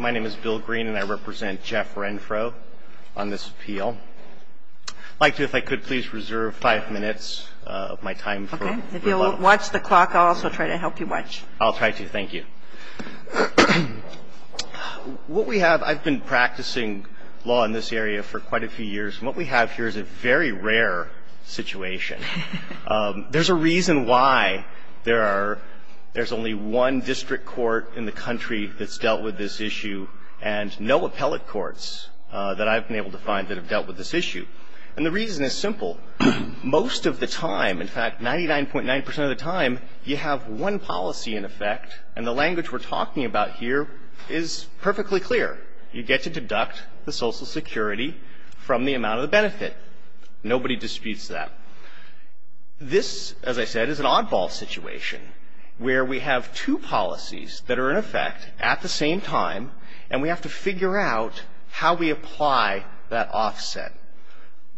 My name is Bill Green and I represent Jeff Renfro on this appeal. I'd like to, if I could, please reserve five minutes of my time. Okay. If you'll watch the clock, I'll also try to help you watch. I'll try to. Thank you. What we have, I've been practicing law in this area for quite a few years, and what we have here is a very rare situation. There's a reason why there are, there's only one district court in the country that's dealt with this issue and no appellate courts that I've been able to find that have dealt with this issue. And the reason is simple. Most of the time, in fact, 99.9% of the time, you have one policy in effect and the language we're talking about here is perfectly clear. You get to deduct the Social Security from the amount of the benefit. Nobody disputes that. This, as I said, is an oddball situation where we have two policies that are in effect at the same time and we have to figure out how we apply that offset.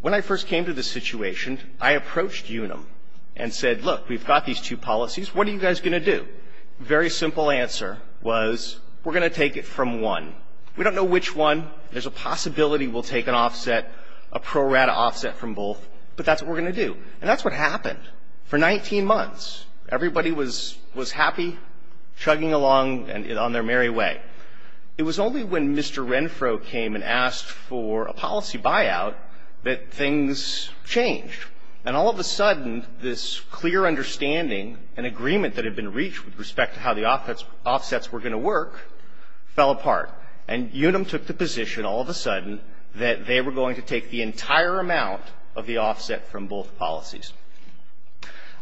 When I first came to this situation, I approached Unum and said, look, we've got these two policies. What are you guys going to do? Very simple answer was, we're going to take it from one. We don't know which one. There's a possibility we'll take an offset, a pro-rata offset from both, but that's what we're going to do. And that's what happened. For 19 months, everybody was happy chugging along on their merry way. It was only when Mr. Renfro came and asked for a policy buyout that things changed. And all of a sudden, this clear understanding and agreement that had been reached with respect to how the offsets were going to work fell apart. And Unum took the position all of a sudden that they were going to take the entire amount of the offset from both policies.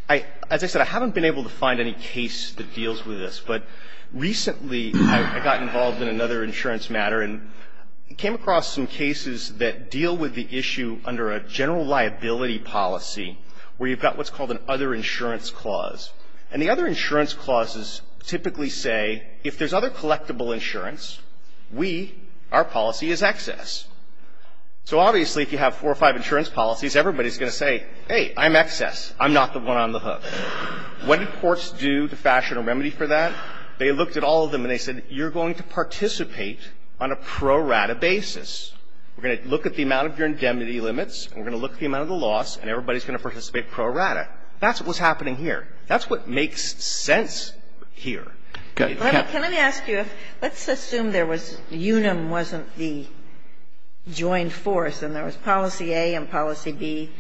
As I said, I haven't been able to find any case that deals with this, but recently I got involved in another insurance matter and came across some cases that deal with the issue under a general liability policy where you've got what's called an other insurance clause. And the other insurance clauses typically say, if there's other collectible insurance, we, our policy is excess. So obviously, if you have four or five insurance policies, everybody's going to say, hey, I'm excess, I'm not the one on the hook. What did courts do to fashion a remedy for that? They looked at all of them and they said, you're going to participate on a pro rata basis. We're going to look at the amount of your indemnity limits, and we're going to look at the amount of the loss, and everybody's going to participate pro rata. That's what's happening here. That's what makes sense here. Kagan. Can I ask you if, let's assume there was, UNUM wasn't the joined force, and there was policy A and policy B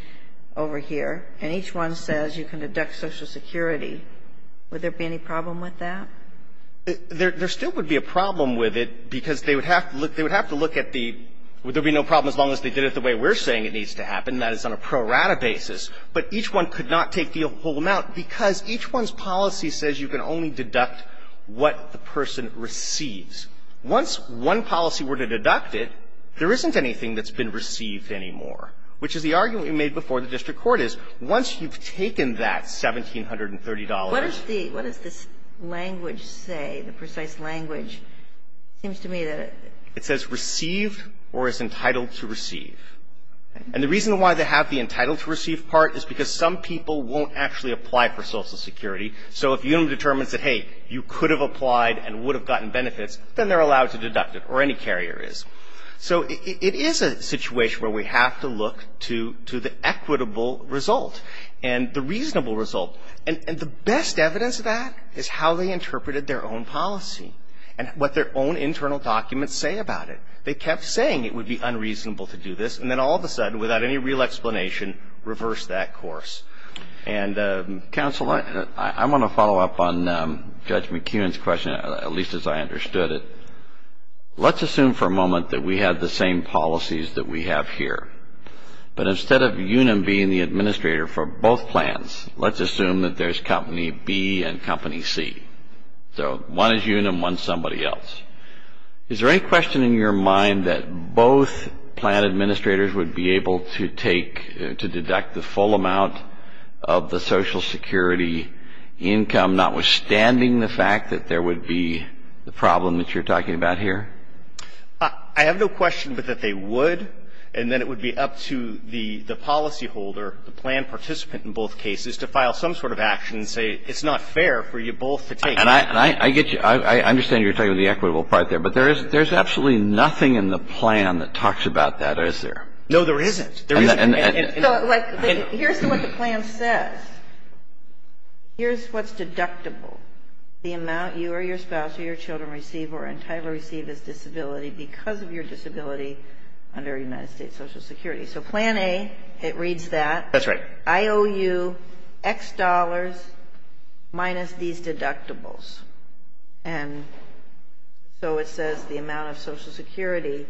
over here, and each one says you can deduct Social Security. Would there be any problem with that? There still would be a problem with it, because they would have to look at the, there would be no problem as long as they did it the way we're saying it needs to happen, and that is on a pro rata basis. But each one could not take the whole amount, because each one's policy says you can only deduct what the person receives. Once one policy were to deduct it, there isn't anything that's been received anymore, which is the argument we made before the district court is, once you've taken that $1,730. What does the, what does this language say, the precise language? It seems to me that it. It says received or is entitled to receive. And the reason why they have the entitled to receive part is because some people won't actually apply for Social Security, so if UDEM determines that, hey, you could have applied and would have gotten benefits, then they're allowed to deduct it, or any carrier is. So it is a situation where we have to look to the equitable result and the reasonable result. And the best evidence of that is how they interpreted their own policy, and what their own internal documents say about it. They kept saying it would be unreasonable to do this, and then all of a sudden, without any real explanation, reversed that course. And counsel, I want to follow up on Judge McKeon's question, at least as I understood it. Let's assume for a moment that we have the same policies that we have here, but instead of UDEM being the administrator for both plans, let's assume that there's company B and company C. So one is UDEM, one's somebody else. Is there any question in your mind that both plan administrators would be able to take to deduct the full amount of the Social Security income, notwithstanding the fact that there would be the problem that you're talking about here? I have no question but that they would, and then it would be up to the policy holder, the plan participant in both cases, to file some sort of action and say it's not fair for you both to take. And I get you. I understand you're talking about the equitable part there, but there's absolutely nothing in the plan that talks about that, is there? No, there isn't. There isn't. Here's what the plan says. Here's what's deductible, the amount you or your spouse or your children receive or entirely receive as disability because of your disability under United States Social Security. So plan A, it reads that. That's right. I owe you X dollars minus these deductibles. And so it says the amount of Social Security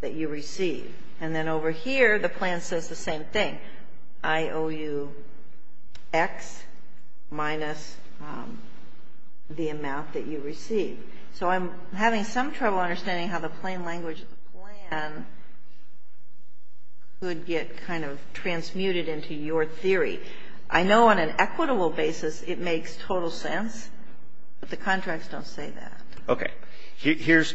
that you receive. And then over here, the plan says the same thing. I owe you X minus the amount that you receive. So I'm having some trouble understanding how the plain language of the plan could get kind of transmuted into your theory. I know on an equitable basis it makes total sense, but the contracts don't say that. Okay. Here's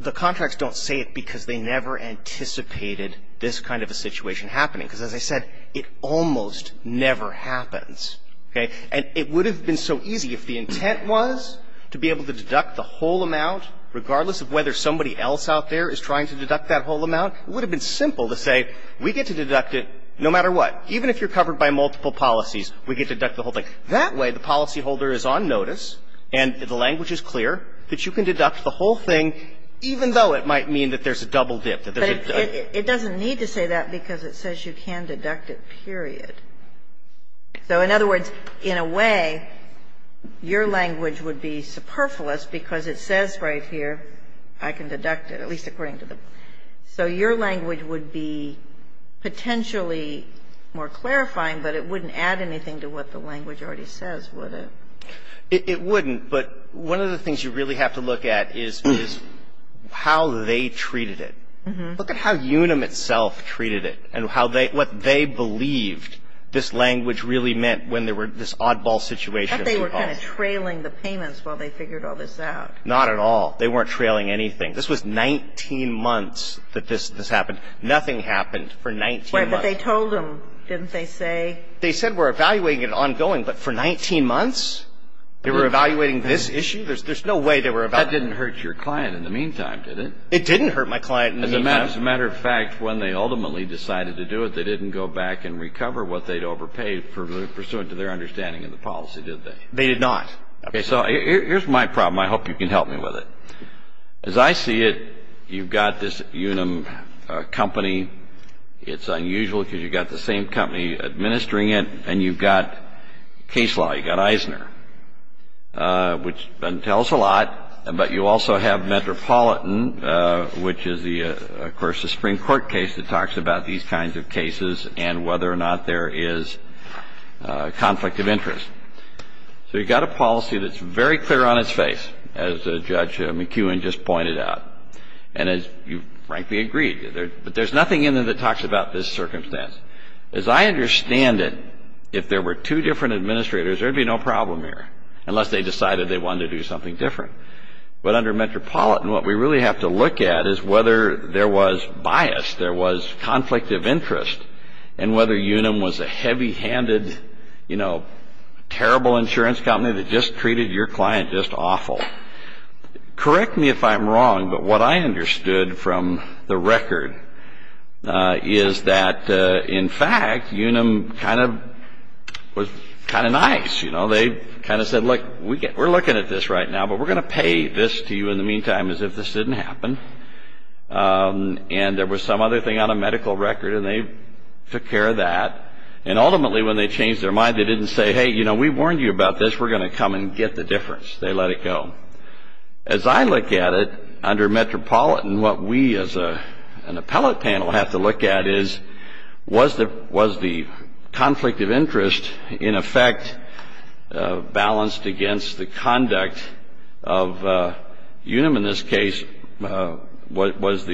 the contracts don't say it because they never anticipated this kind of a situation happening, because as I said, it almost never happens, okay? And it would have been so easy if the intent was to be able to deduct the whole amount, regardless of whether somebody else out there is trying to deduct that whole amount. It would have been simple to say, we get to deduct it no matter what. Even if you're covered by multiple policies, we get to deduct the whole thing. That way, the policyholder is on notice and the language is clear that you can deduct the whole thing, even though it might mean that there's a double dip, that there's a double dip. But it doesn't need to say that because it says you can deduct it, period. So in other words, in a way, your language would be superfluous because it says right here, I can deduct it, at least according to the plan. So your language would be potentially more clarifying, but it wouldn't add anything to what the language already says, would it? It wouldn't, but one of the things you really have to look at is how they treated it. Look at how Unum itself treated it and what they believed this language really meant when there were this oddball situation. I thought they were kind of trailing the payments while they figured all this out. Not at all. They weren't trailing anything. This was 19 months that this happened. Nothing happened for 19 months. But they told them, didn't they say? They said we're evaluating it ongoing, but for 19 months? They were evaluating this issue? There's no way they were evaluating it. That didn't hurt your client in the meantime, did it? It didn't hurt my client in the meantime. As a matter of fact, when they ultimately decided to do it, they didn't go back and recover what they'd overpaid pursuant to their understanding of the policy, did they? They did not. Okay. So here's my problem. I hope you can help me with it. As I see it, you've got this Unum company. It's unusual because you've got the same company administering it. And you've got case law. You've got Eisner, which tells a lot. But you also have Metropolitan, which is, of course, a Supreme Court case that talks about these kinds of cases and whether or not there is conflict of interest. So you've got a policy that's very clear on its face, as Judge McEwen just pointed out. And as you frankly agreed, but there's nothing in there that talks about this circumstance. As I understand it, if there were two different administrators, there'd be no problem here, unless they decided they wanted to do something different. But under Metropolitan, what we really have to look at is whether there was bias, there was conflict of interest, and whether Unum was a heavy-handed, you know, terrible insurance company that just treated your client just awful. Correct me if I'm wrong, but what I understood from the record is that, in fact, Unum kind of was kind of nice. You know, they kind of said, look, we're looking at this right now, but we're going to pay this to you in the meantime, as if this didn't happen. And there was some other thing on a medical record, and they took care of that. And ultimately, when they changed their mind, they didn't say, hey, you know, we warned you about this, we're going to come and get the difference. They let it go. As I look at it, under Metropolitan, what we as an appellate panel have to look at is, was the conflict of interest, in effect, balanced against the conduct of Unum, in this case, was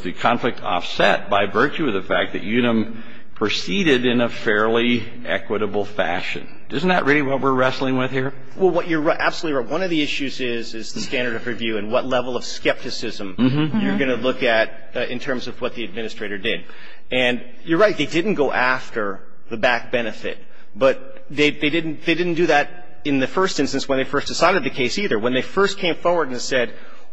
the conflict offset by virtue of the fact that Unum proceeded in a fairly equitable fashion. Isn't that really what we're wrestling with here? Well, you're absolutely right. One of the issues is the standard of review and what level of skepticism you're going to look at in terms of what the administrator did. And you're right, they didn't go after the back benefit, but they didn't do that in the first instance when they first decided the case either. When they first came forward and said,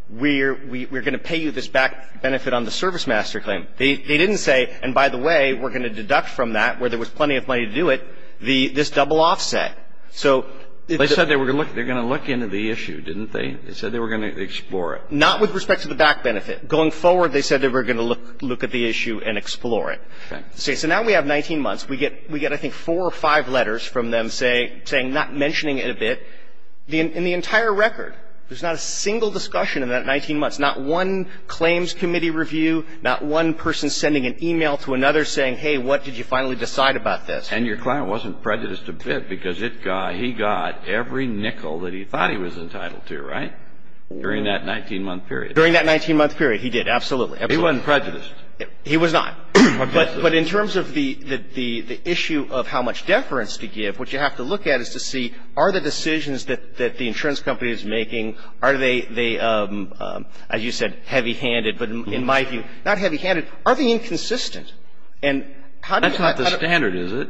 we're going to pay you this back benefit on the service master claim, they didn't say, and by the way, we're going to deduct from that, where there was plenty of money to do it, this double offset. So they said they were going to look into the issue, didn't they? They said they were going to explore it. Not with respect to the back benefit. Going forward, they said they were going to look at the issue and explore it. Okay. See, so now we have 19 months. We get, I think, four or five letters from them saying, not mentioning it a bit. In the entire record, there's not a single discussion in that 19 months. Not one claims committee review. Not one person sending an email to another saying, hey, what did you finally decide about this? And your client wasn't prejudiced a bit, because he got every nickel that he thought he was entitled to, right? During that 19-month period. During that 19-month period, he did. Absolutely. He wasn't prejudiced. He was not. But in terms of the issue of how much deference to give, what you have to look at is to see, are the decisions that the insurance company is making, are they, as you said, heavy-handed, but in my view, not heavy-handed. Are they inconsistent? And how do you find out how to That's not the standard, is it?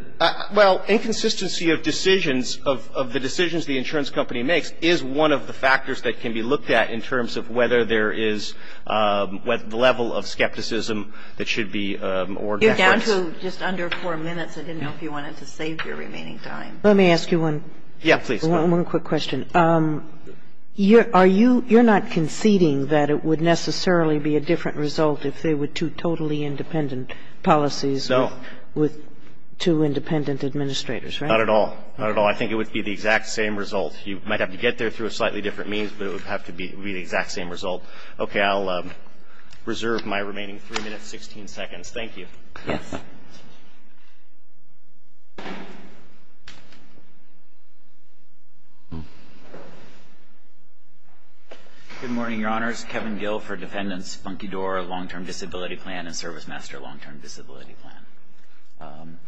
Well, inconsistency of decisions, of the decisions the insurance company makes, is one of the factors that can be looked at in terms of whether there is the level of skepticism that should be or deference. You're down to just under four minutes. I didn't know if you wanted to save your remaining time. Let me ask you one quick question. You're not conceding that it would necessarily be a different result if there were two totally independent policies with two independent administrators, right? Not at all. Not at all. I think it would be the exact same result. You might have to get there through a slightly different means, but it would have to be the exact same result. Okay. I'll reserve my remaining three minutes, 16 seconds. Thank you. Yes. Good morning, Your Honors. Kevin Gill for Defendant's Funky Door Long-Term Disability Plan and Servicemaster Long-Term Disability Plan.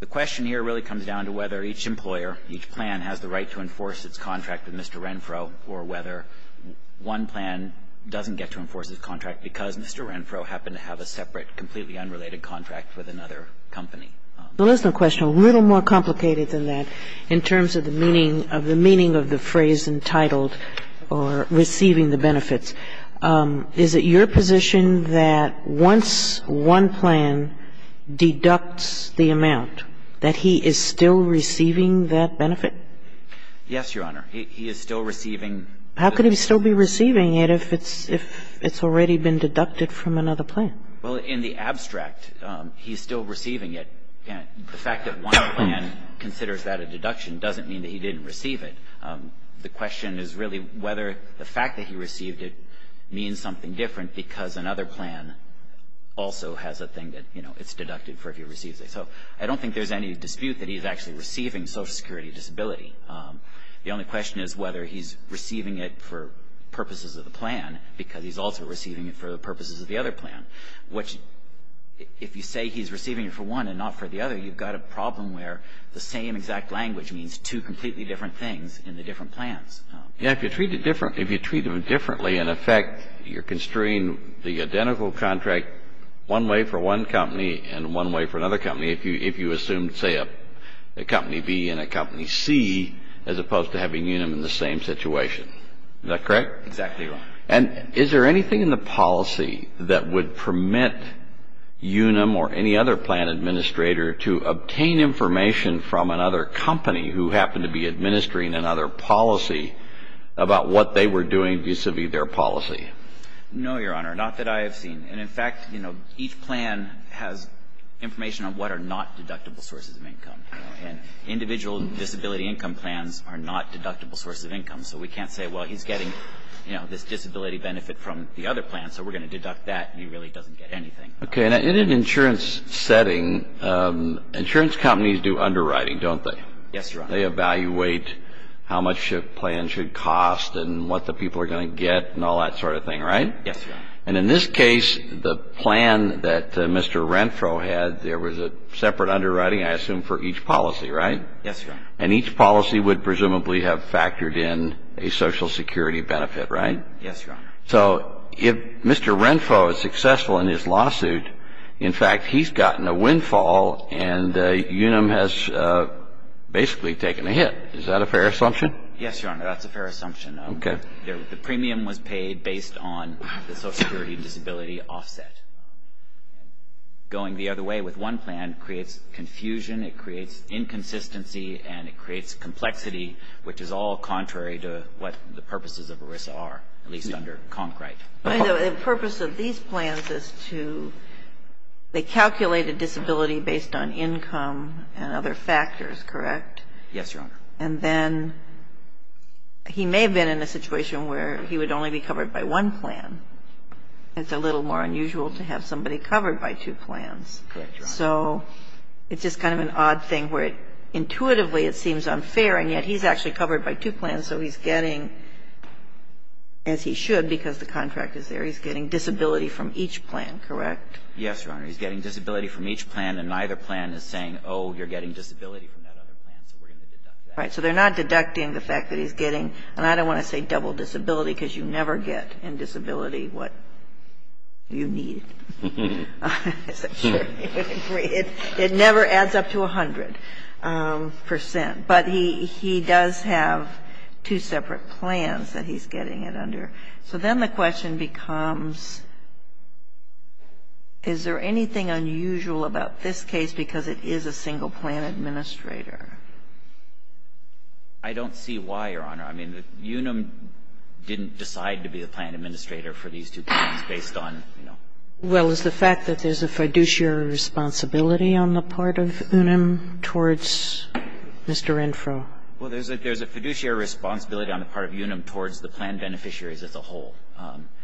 The question here really comes down to whether each employer, each plan, has the right to enforce its contract with Mr. Renfro, or whether one plan doesn't get to enforce its contract because Mr. Renfro happened to have a separate, completely unrelated contract with another company. Well, there's no question. A little more complicated than that in terms of the meaning of the phrase entitled or receiving the benefits, is it your position that once one plan deducts the amount, that he is still receiving that benefit? Yes, Your Honor. He is still receiving. How could he still be receiving it if it's already been deducted from another plan? Well, in the abstract, he's still receiving it. The fact that one plan considers that a deduction doesn't mean that he didn't receive it. The question is really whether the fact that he received it means something different because another plan also has a thing that, you know, it's deducted for if he receives it. So I don't think there's any dispute that he's actually receiving Social Security Disability. The only question is whether he's receiving it for purposes of the plan because he's also receiving it for the purposes of the other plan. Which, if you say he's receiving it for one and not for the other, you've got a problem where the same exact language means two completely different things in the different plans. Yeah, if you treat it differently, in effect, you're construing the identical contract one way for one company and one way for another company if you assume, say, a company B and a company C as opposed to having Unum in the same situation. Is that correct? Exactly right. And is there anything in the policy that would permit Unum or any other plan administrator to obtain information from another company who happened to be administering another policy about what they were doing vis-a-vis their policy? No, Your Honor. Not that I have seen. And in fact, you know, each plan has information on what are not deductible sources of income. And individual disability income plans are not deductible sources of income. So we can't say, well, he's getting, you know, this disability benefit from the other plan, so we're going to deduct that. He really doesn't get anything. Okay. Now, in an insurance setting, insurance companies do underwriting, don't they? Yes, Your Honor. They evaluate how much a plan should cost and what the people are going to get and all that sort of thing, right? Yes, Your Honor. And in this case, the plan that Mr. Renfro had, there was a separate underwriting, I assume, for each policy, right? Yes, Your Honor. And each policy would presumably have factored in a Social Security benefit, right? Yes, Your Honor. So if Mr. Renfro is successful in his lawsuit, in fact, he's gotten a windfall and Unum has basically taken a hit. Is that a fair assumption? Yes, Your Honor. That's a fair assumption. Okay. The premium was paid based on the Social Security disability offset. Going the other way with one plan creates confusion. It creates inconsistency and it creates complexity, which is all contrary to what the purposes of ERISA are, at least under Concrete. The purpose of these plans is to, they calculate a disability based on income and other factors, correct? Yes, Your Honor. And then he may have been in a situation where he would only be covered by one plan. It's a little more unusual to have somebody covered by two plans. Correct, Your Honor. So it's just kind of an odd thing where intuitively it seems unfair, and yet he's actually covered by two plans, so he's getting, as he should because the contract is there, he's getting disability from each plan, correct? Yes, Your Honor. He's getting disability from each plan and neither plan is saying, oh, you're getting disability from that other plan, so we're going to deduct that. Right. So they're not deducting the fact that he's getting, and I don't want to say double disability because you never get in disability what you need, I'm sure you would agree. It never adds up to 100%, but he does have two separate plans that he's getting it under. So then the question becomes, is there anything unusual about this case because it is a single plan administrator? I don't see why, Your Honor. I mean, UNAM didn't decide to be the plan administrator for these two plans based on, you know. Well, is the fact that there's a fiduciary responsibility on the part of UNAM towards Mr. Renfro? Well, there's a fiduciary responsibility on the part of UNAM towards the plan beneficiaries as a whole,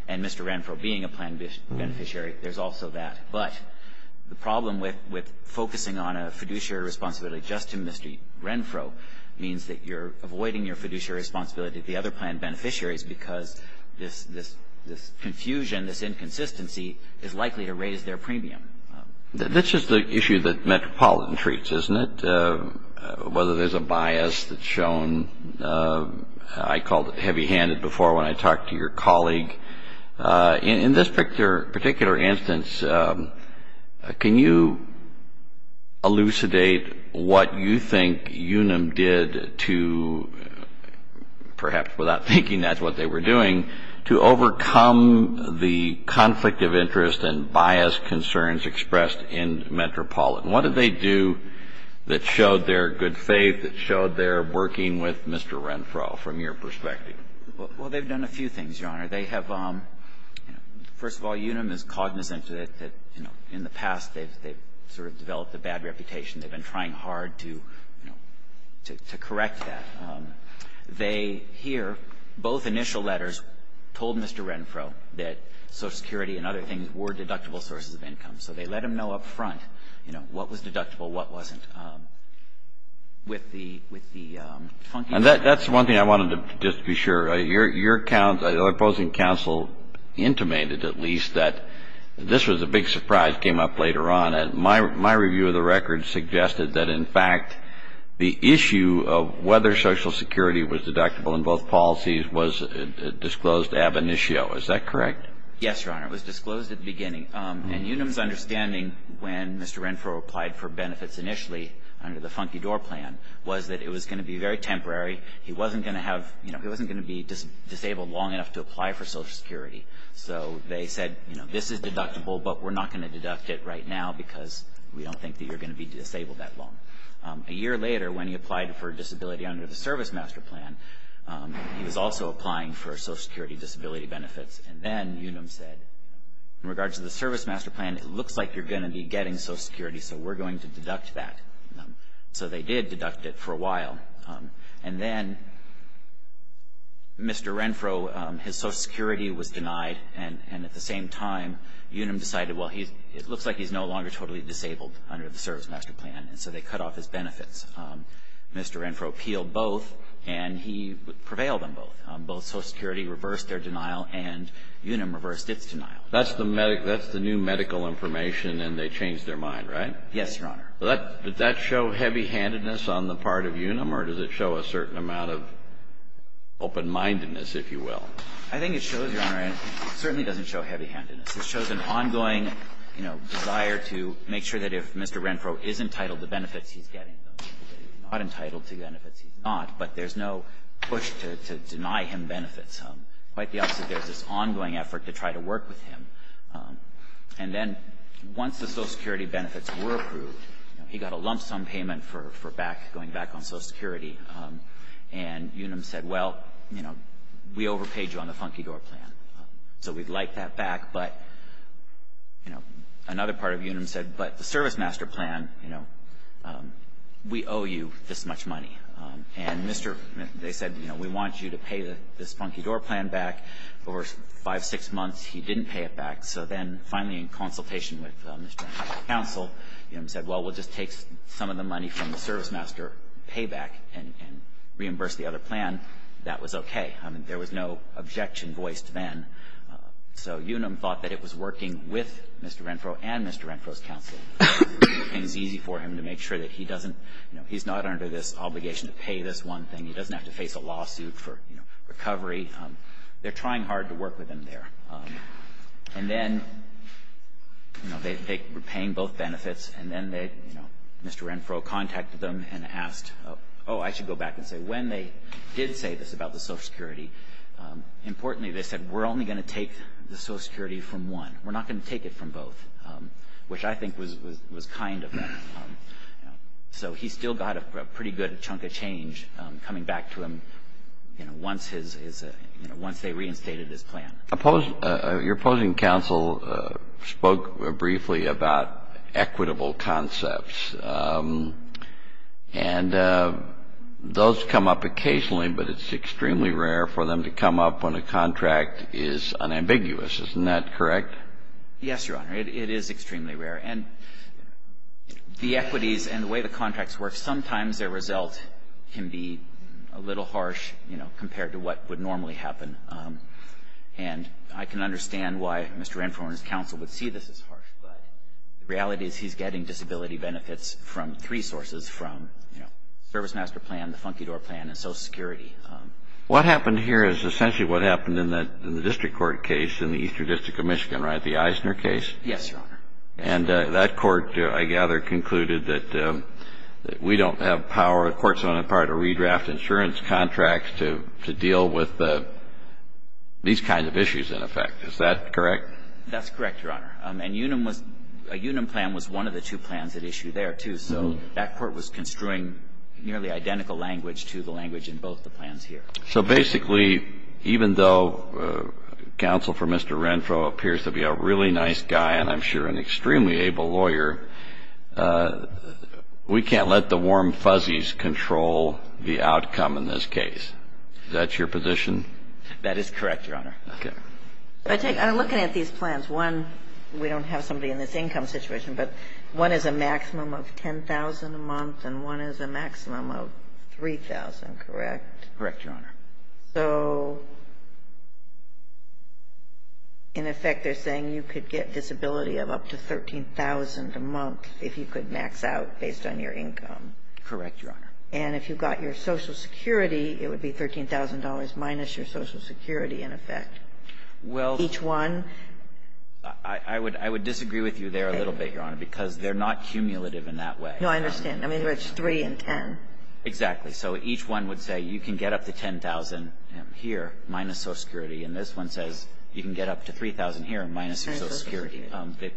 and Mr. Renfro being a plan beneficiary, there's also that. But the problem with focusing on a fiduciary responsibility just to Mr. Renfro means that you're avoiding your fiduciary responsibility to the other plan beneficiaries because this confusion, this inconsistency is likely to raise their premium. That's just the issue that Metropolitan treats, isn't it? Whether there's a bias that's shown, I called it heavy-handed before when I talked to your colleague. In this particular instance, can you elucidate what you think UNAM did to, perhaps without thinking that's what they were doing, to overcome the conflict of interest and bias concerns expressed in Metropolitan? What did they do that showed their good faith, that showed their working with Mr. Renfro from your perspective? Well, they've done a few things, Your Honor. They have, you know, first of all, UNAM is cognizant that, you know, in the past they've sort of developed a bad reputation. They've been trying hard to, you know, to correct that. They here, both initial letters, told Mr. Renfro that Social Security and other things were deductible sources of income. So they let him know up front, you know, what was deductible, what wasn't. And that's one thing I wanted to just be sure. Your opposing counsel intimated, at least, that this was a big surprise, came up later on. And my review of the record suggested that, in fact, the issue of whether Social Security was deductible in both policies was disclosed ab initio. Is that correct? Yes, Your Honor. It was disclosed at the beginning. under the Funky Door Plan was that it was going to be very temporary. He wasn't going to have, you know, he wasn't going to be disabled long enough to apply for Social Security. So they said, you know, this is deductible, but we're not going to deduct it right now because we don't think that you're going to be disabled that long. A year later, when he applied for disability under the Service Master Plan, he was also applying for Social Security disability benefits. And then UNAM said, in regards to the Service Master Plan, it looks like you're going to be getting Social Security. So we're going to deduct that. So they did deduct it for a while. And then Mr. Renfro, his Social Security was denied. And at the same time, UNAM decided, well, it looks like he's no longer totally disabled under the Service Master Plan, and so they cut off his benefits. Mr. Renfro appealed both, and he prevailed on both. Both Social Security reversed their denial, and UNAM reversed its denial. That's the new medical information, and they changed their mind, right? Yes, Your Honor. Did that show heavy-handedness on the part of UNAM, or does it show a certain amount of open-mindedness, if you will? I think it shows, Your Honor, it certainly doesn't show heavy-handedness. It shows an ongoing, you know, desire to make sure that if Mr. Renfro is entitled to benefits, he's getting them. If he's not entitled to benefits, he's not. But there's no push to deny him benefits. Quite the opposite, there's this ongoing effort to try to work with him. And then, once the Social Security benefits were approved, you know, he got a lump-sum payment for going back on Social Security. And UNAM said, well, you know, we overpaid you on the Funky Door Plan, so we'd like that back. But, you know, another part of UNAM said, but the Service Master Plan, you know, we owe you this much money. And Mr. they said, you know, we want you to pay this Funky Door Plan back. For five, six months, he didn't pay it back. So then, finally, in consultation with Mr. Renfro's counsel, you know, UNAM said, well, we'll just take some of the money from the Service Master payback and reimburse the other plan. That was okay. I mean, there was no objection voiced then. So UNAM thought that it was working with Mr. Renfro and Mr. Renfro's counsel. And it's easy for him to make sure that he doesn't, you know, he's not under this obligation to pay this one thing. He doesn't have to face a lawsuit for, you know, recovery. They're trying hard to work with him there. And then, you know, they were paying both benefits, and then they, you know, Mr. Renfro contacted them and asked, oh, I should go back and say, when they did say this about the Social Security, importantly, they said, we're only going to take the Social Security from one. We're not going to take it from both, which I think was kind of them. So he still got a pretty good chunk of change coming back to him, you know, once his, you know, once they reinstated his plan. Your opposing counsel spoke briefly about equitable concepts. And those come up occasionally, but it's extremely rare for them to come up when a contract is unambiguous. Isn't that correct? Yes, Your Honor. It is extremely rare. And the equities and the way the contracts work, sometimes their result can be a little harsh, you know, compared to what would normally happen. And I can understand why Mr. Renfro and his counsel would see this as harsh, but the reality is he's getting disability benefits from three sources, from, you know, Service Master Plan, the Funky Door Plan, and Social Security. What happened here is essentially what happened in the district court case in the Eastern District of Michigan, right, the Eisner case? Yes, Your Honor. And that court, I gather, concluded that we don't have power, courts don't have power to redraft insurance contracts to deal with these kinds of issues, in effect. Is that correct? That's correct, Your Honor. And Unum was, a Unum plan was one of the two plans at issue there, too. So that court was construing nearly identical language to the language in both the plans here. So basically, even though counsel for Mr. Renfro appears to be a really nice guy, and I'm sure an extremely able lawyer, we can't let the warm fuzzies control the outcome in this case. Is that your position? That is correct, Your Honor. Okay. I take, I'm looking at these plans. One, we don't have somebody in this income situation, but one is a maximum of $10,000 a month, and one is a maximum of $3,000, correct? Correct, Your Honor. So in effect, they're saying you could get disability of up to $13,000 a month if you could max out based on your income. Correct, Your Honor. And if you got your Social Security, it would be $13,000 minus your Social Security, in effect. Well, the one I would, I would disagree with you there a little bit, Your Honor, because they're not cumulative in that way. No, I understand. I mean, it's 3 and 10. Exactly. So each one would say you can get up to $10,000 here minus Social Security, and this one says you can get up to $3,000 here minus your Social Security.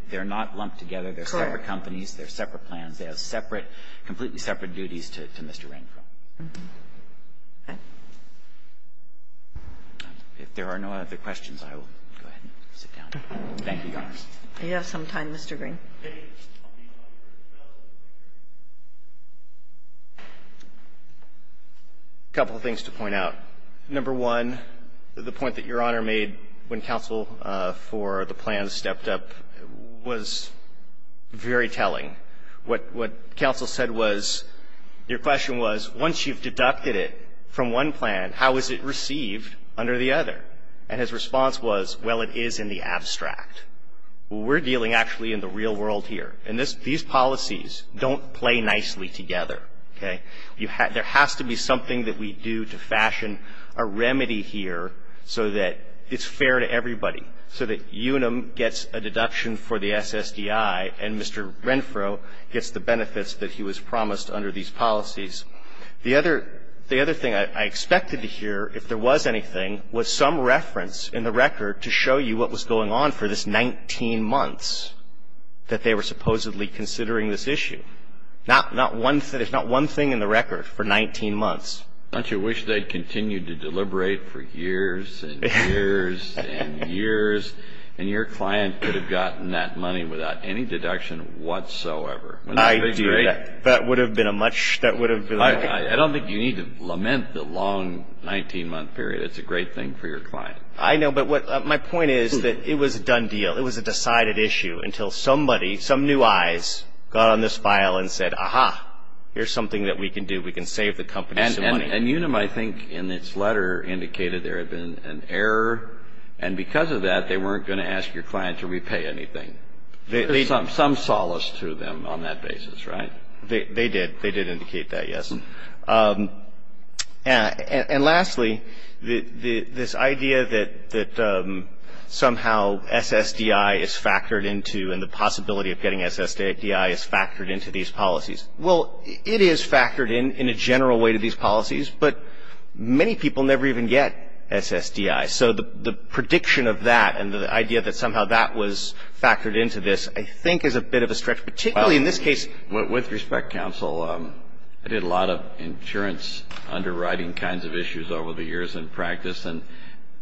They're not lumped together. They're separate companies. They're separate plans. They have separate, completely separate duties to Mr. Rainfro. Okay. If there are no other questions, I will go ahead and sit down. Thank you, Your Honor. You have some time, Mr. Green. Okay. A couple of things to point out. Number one, the point that Your Honor made when counsel for the plans stepped up was very telling. What counsel said was, your question was, once you've deducted it from one plan, how is it received under the other? And his response was, well, it is in the abstract. We're dealing actually in the real world here. And these policies don't play nicely together. Okay. There has to be something that we do to fashion a remedy here so that it's fair to everybody, so that Unum gets a deduction for the SSDI and Mr. Rainfro gets the benefits that he was promised under these policies. The other thing I expected to hear, if there was anything, was some reference in the record to show you what was going on for this 19 months that they were supposedly considering this issue. There's not one thing in the record for 19 months. Don't you wish they'd continued to deliberate for years and years and years, and your client could have gotten that money without any deduction whatsoever? I do. That would have been a much — that would have been a — I don't think you need to lament the long 19-month period. It's a great thing for your client. I know, but what — my point is that it was a done deal. It was a decided issue until somebody, some new eyes, got on this file and said, aha, here's something that we can do. We can save the company some money. And Unum, I think, in its letter indicated there had been an error. And because of that, they weren't going to ask your client to repay anything. There's some solace to them on that basis, right? They did. They did indicate that, yes. And lastly, this idea that somehow SSDI is factored into and the possibility of getting SSDI is factored into these policies. Well, it is factored in in a general way to these policies, but many people never even get SSDI. So the prediction of that and the idea that somehow that was factored into this, I think, is a bit of a stretch, particularly in this case. With respect, counsel, I did a lot of insurance underwriting kinds of issues over the years in practice, and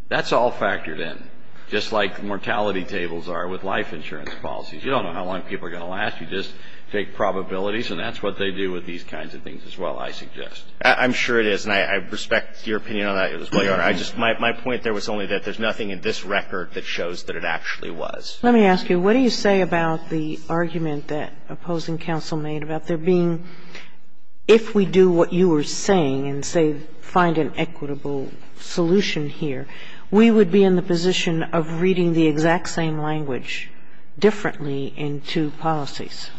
that's all factored in, just like mortality tables are with life insurance policies. You don't know how long people are going to last. You just take probabilities, and that's what they do with these kinds of things as well, I suggest. I'm sure it is, and I respect your opinion on that as well, Your Honor. I just — my point there was only that there's nothing in this record that shows that it actually was. Let me ask you, what do you say about the argument that opposing counsel made about there being — if we do what you were saying and, say, find an equitable solution here, we would be in the position of reading the exact same language differently in two policies?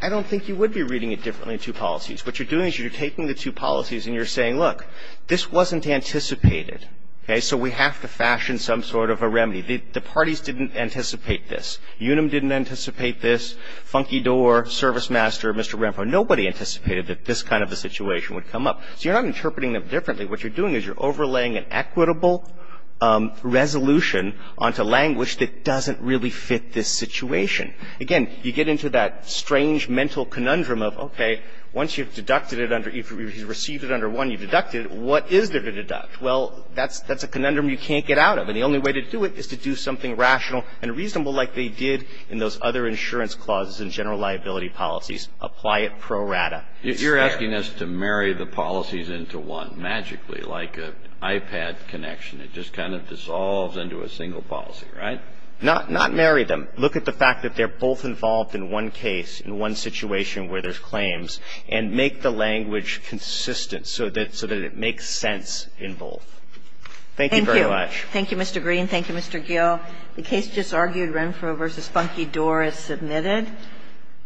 I don't think you would be reading it differently in two policies. What you're doing is you're taking the two policies and you're saying, look, this wasn't anticipated. Okay? So we have to fashion some sort of a remedy. The parties didn't anticipate this. Unum didn't anticipate this. Funky Door, Service Master, Mr. Rampham, nobody anticipated that this kind of a situation would come up. So you're not interpreting them differently. What you're doing is you're overlaying an equitable resolution onto language that doesn't really fit this situation. Again, you get into that strange mental conundrum of, okay, once you've deducted it under — if you received it under one, you've deducted it, what is there to deduct? Well, that's a conundrum you can't get out of. And the only way to do it is to do something rational and reasonable like they did in those other insurance clauses and general liability policies. Apply it pro rata. You're asking us to marry the policies into one magically, like an iPad connection. It just kind of dissolves into a single policy, right? Not marry them. Look at the fact that they're both involved in one case, in one situation where there's Thank you very much. Thank you, Mr. Green. Thank you, Mr. Gill. The case just argued, Renfro v. Funke, Dorr, is submitted.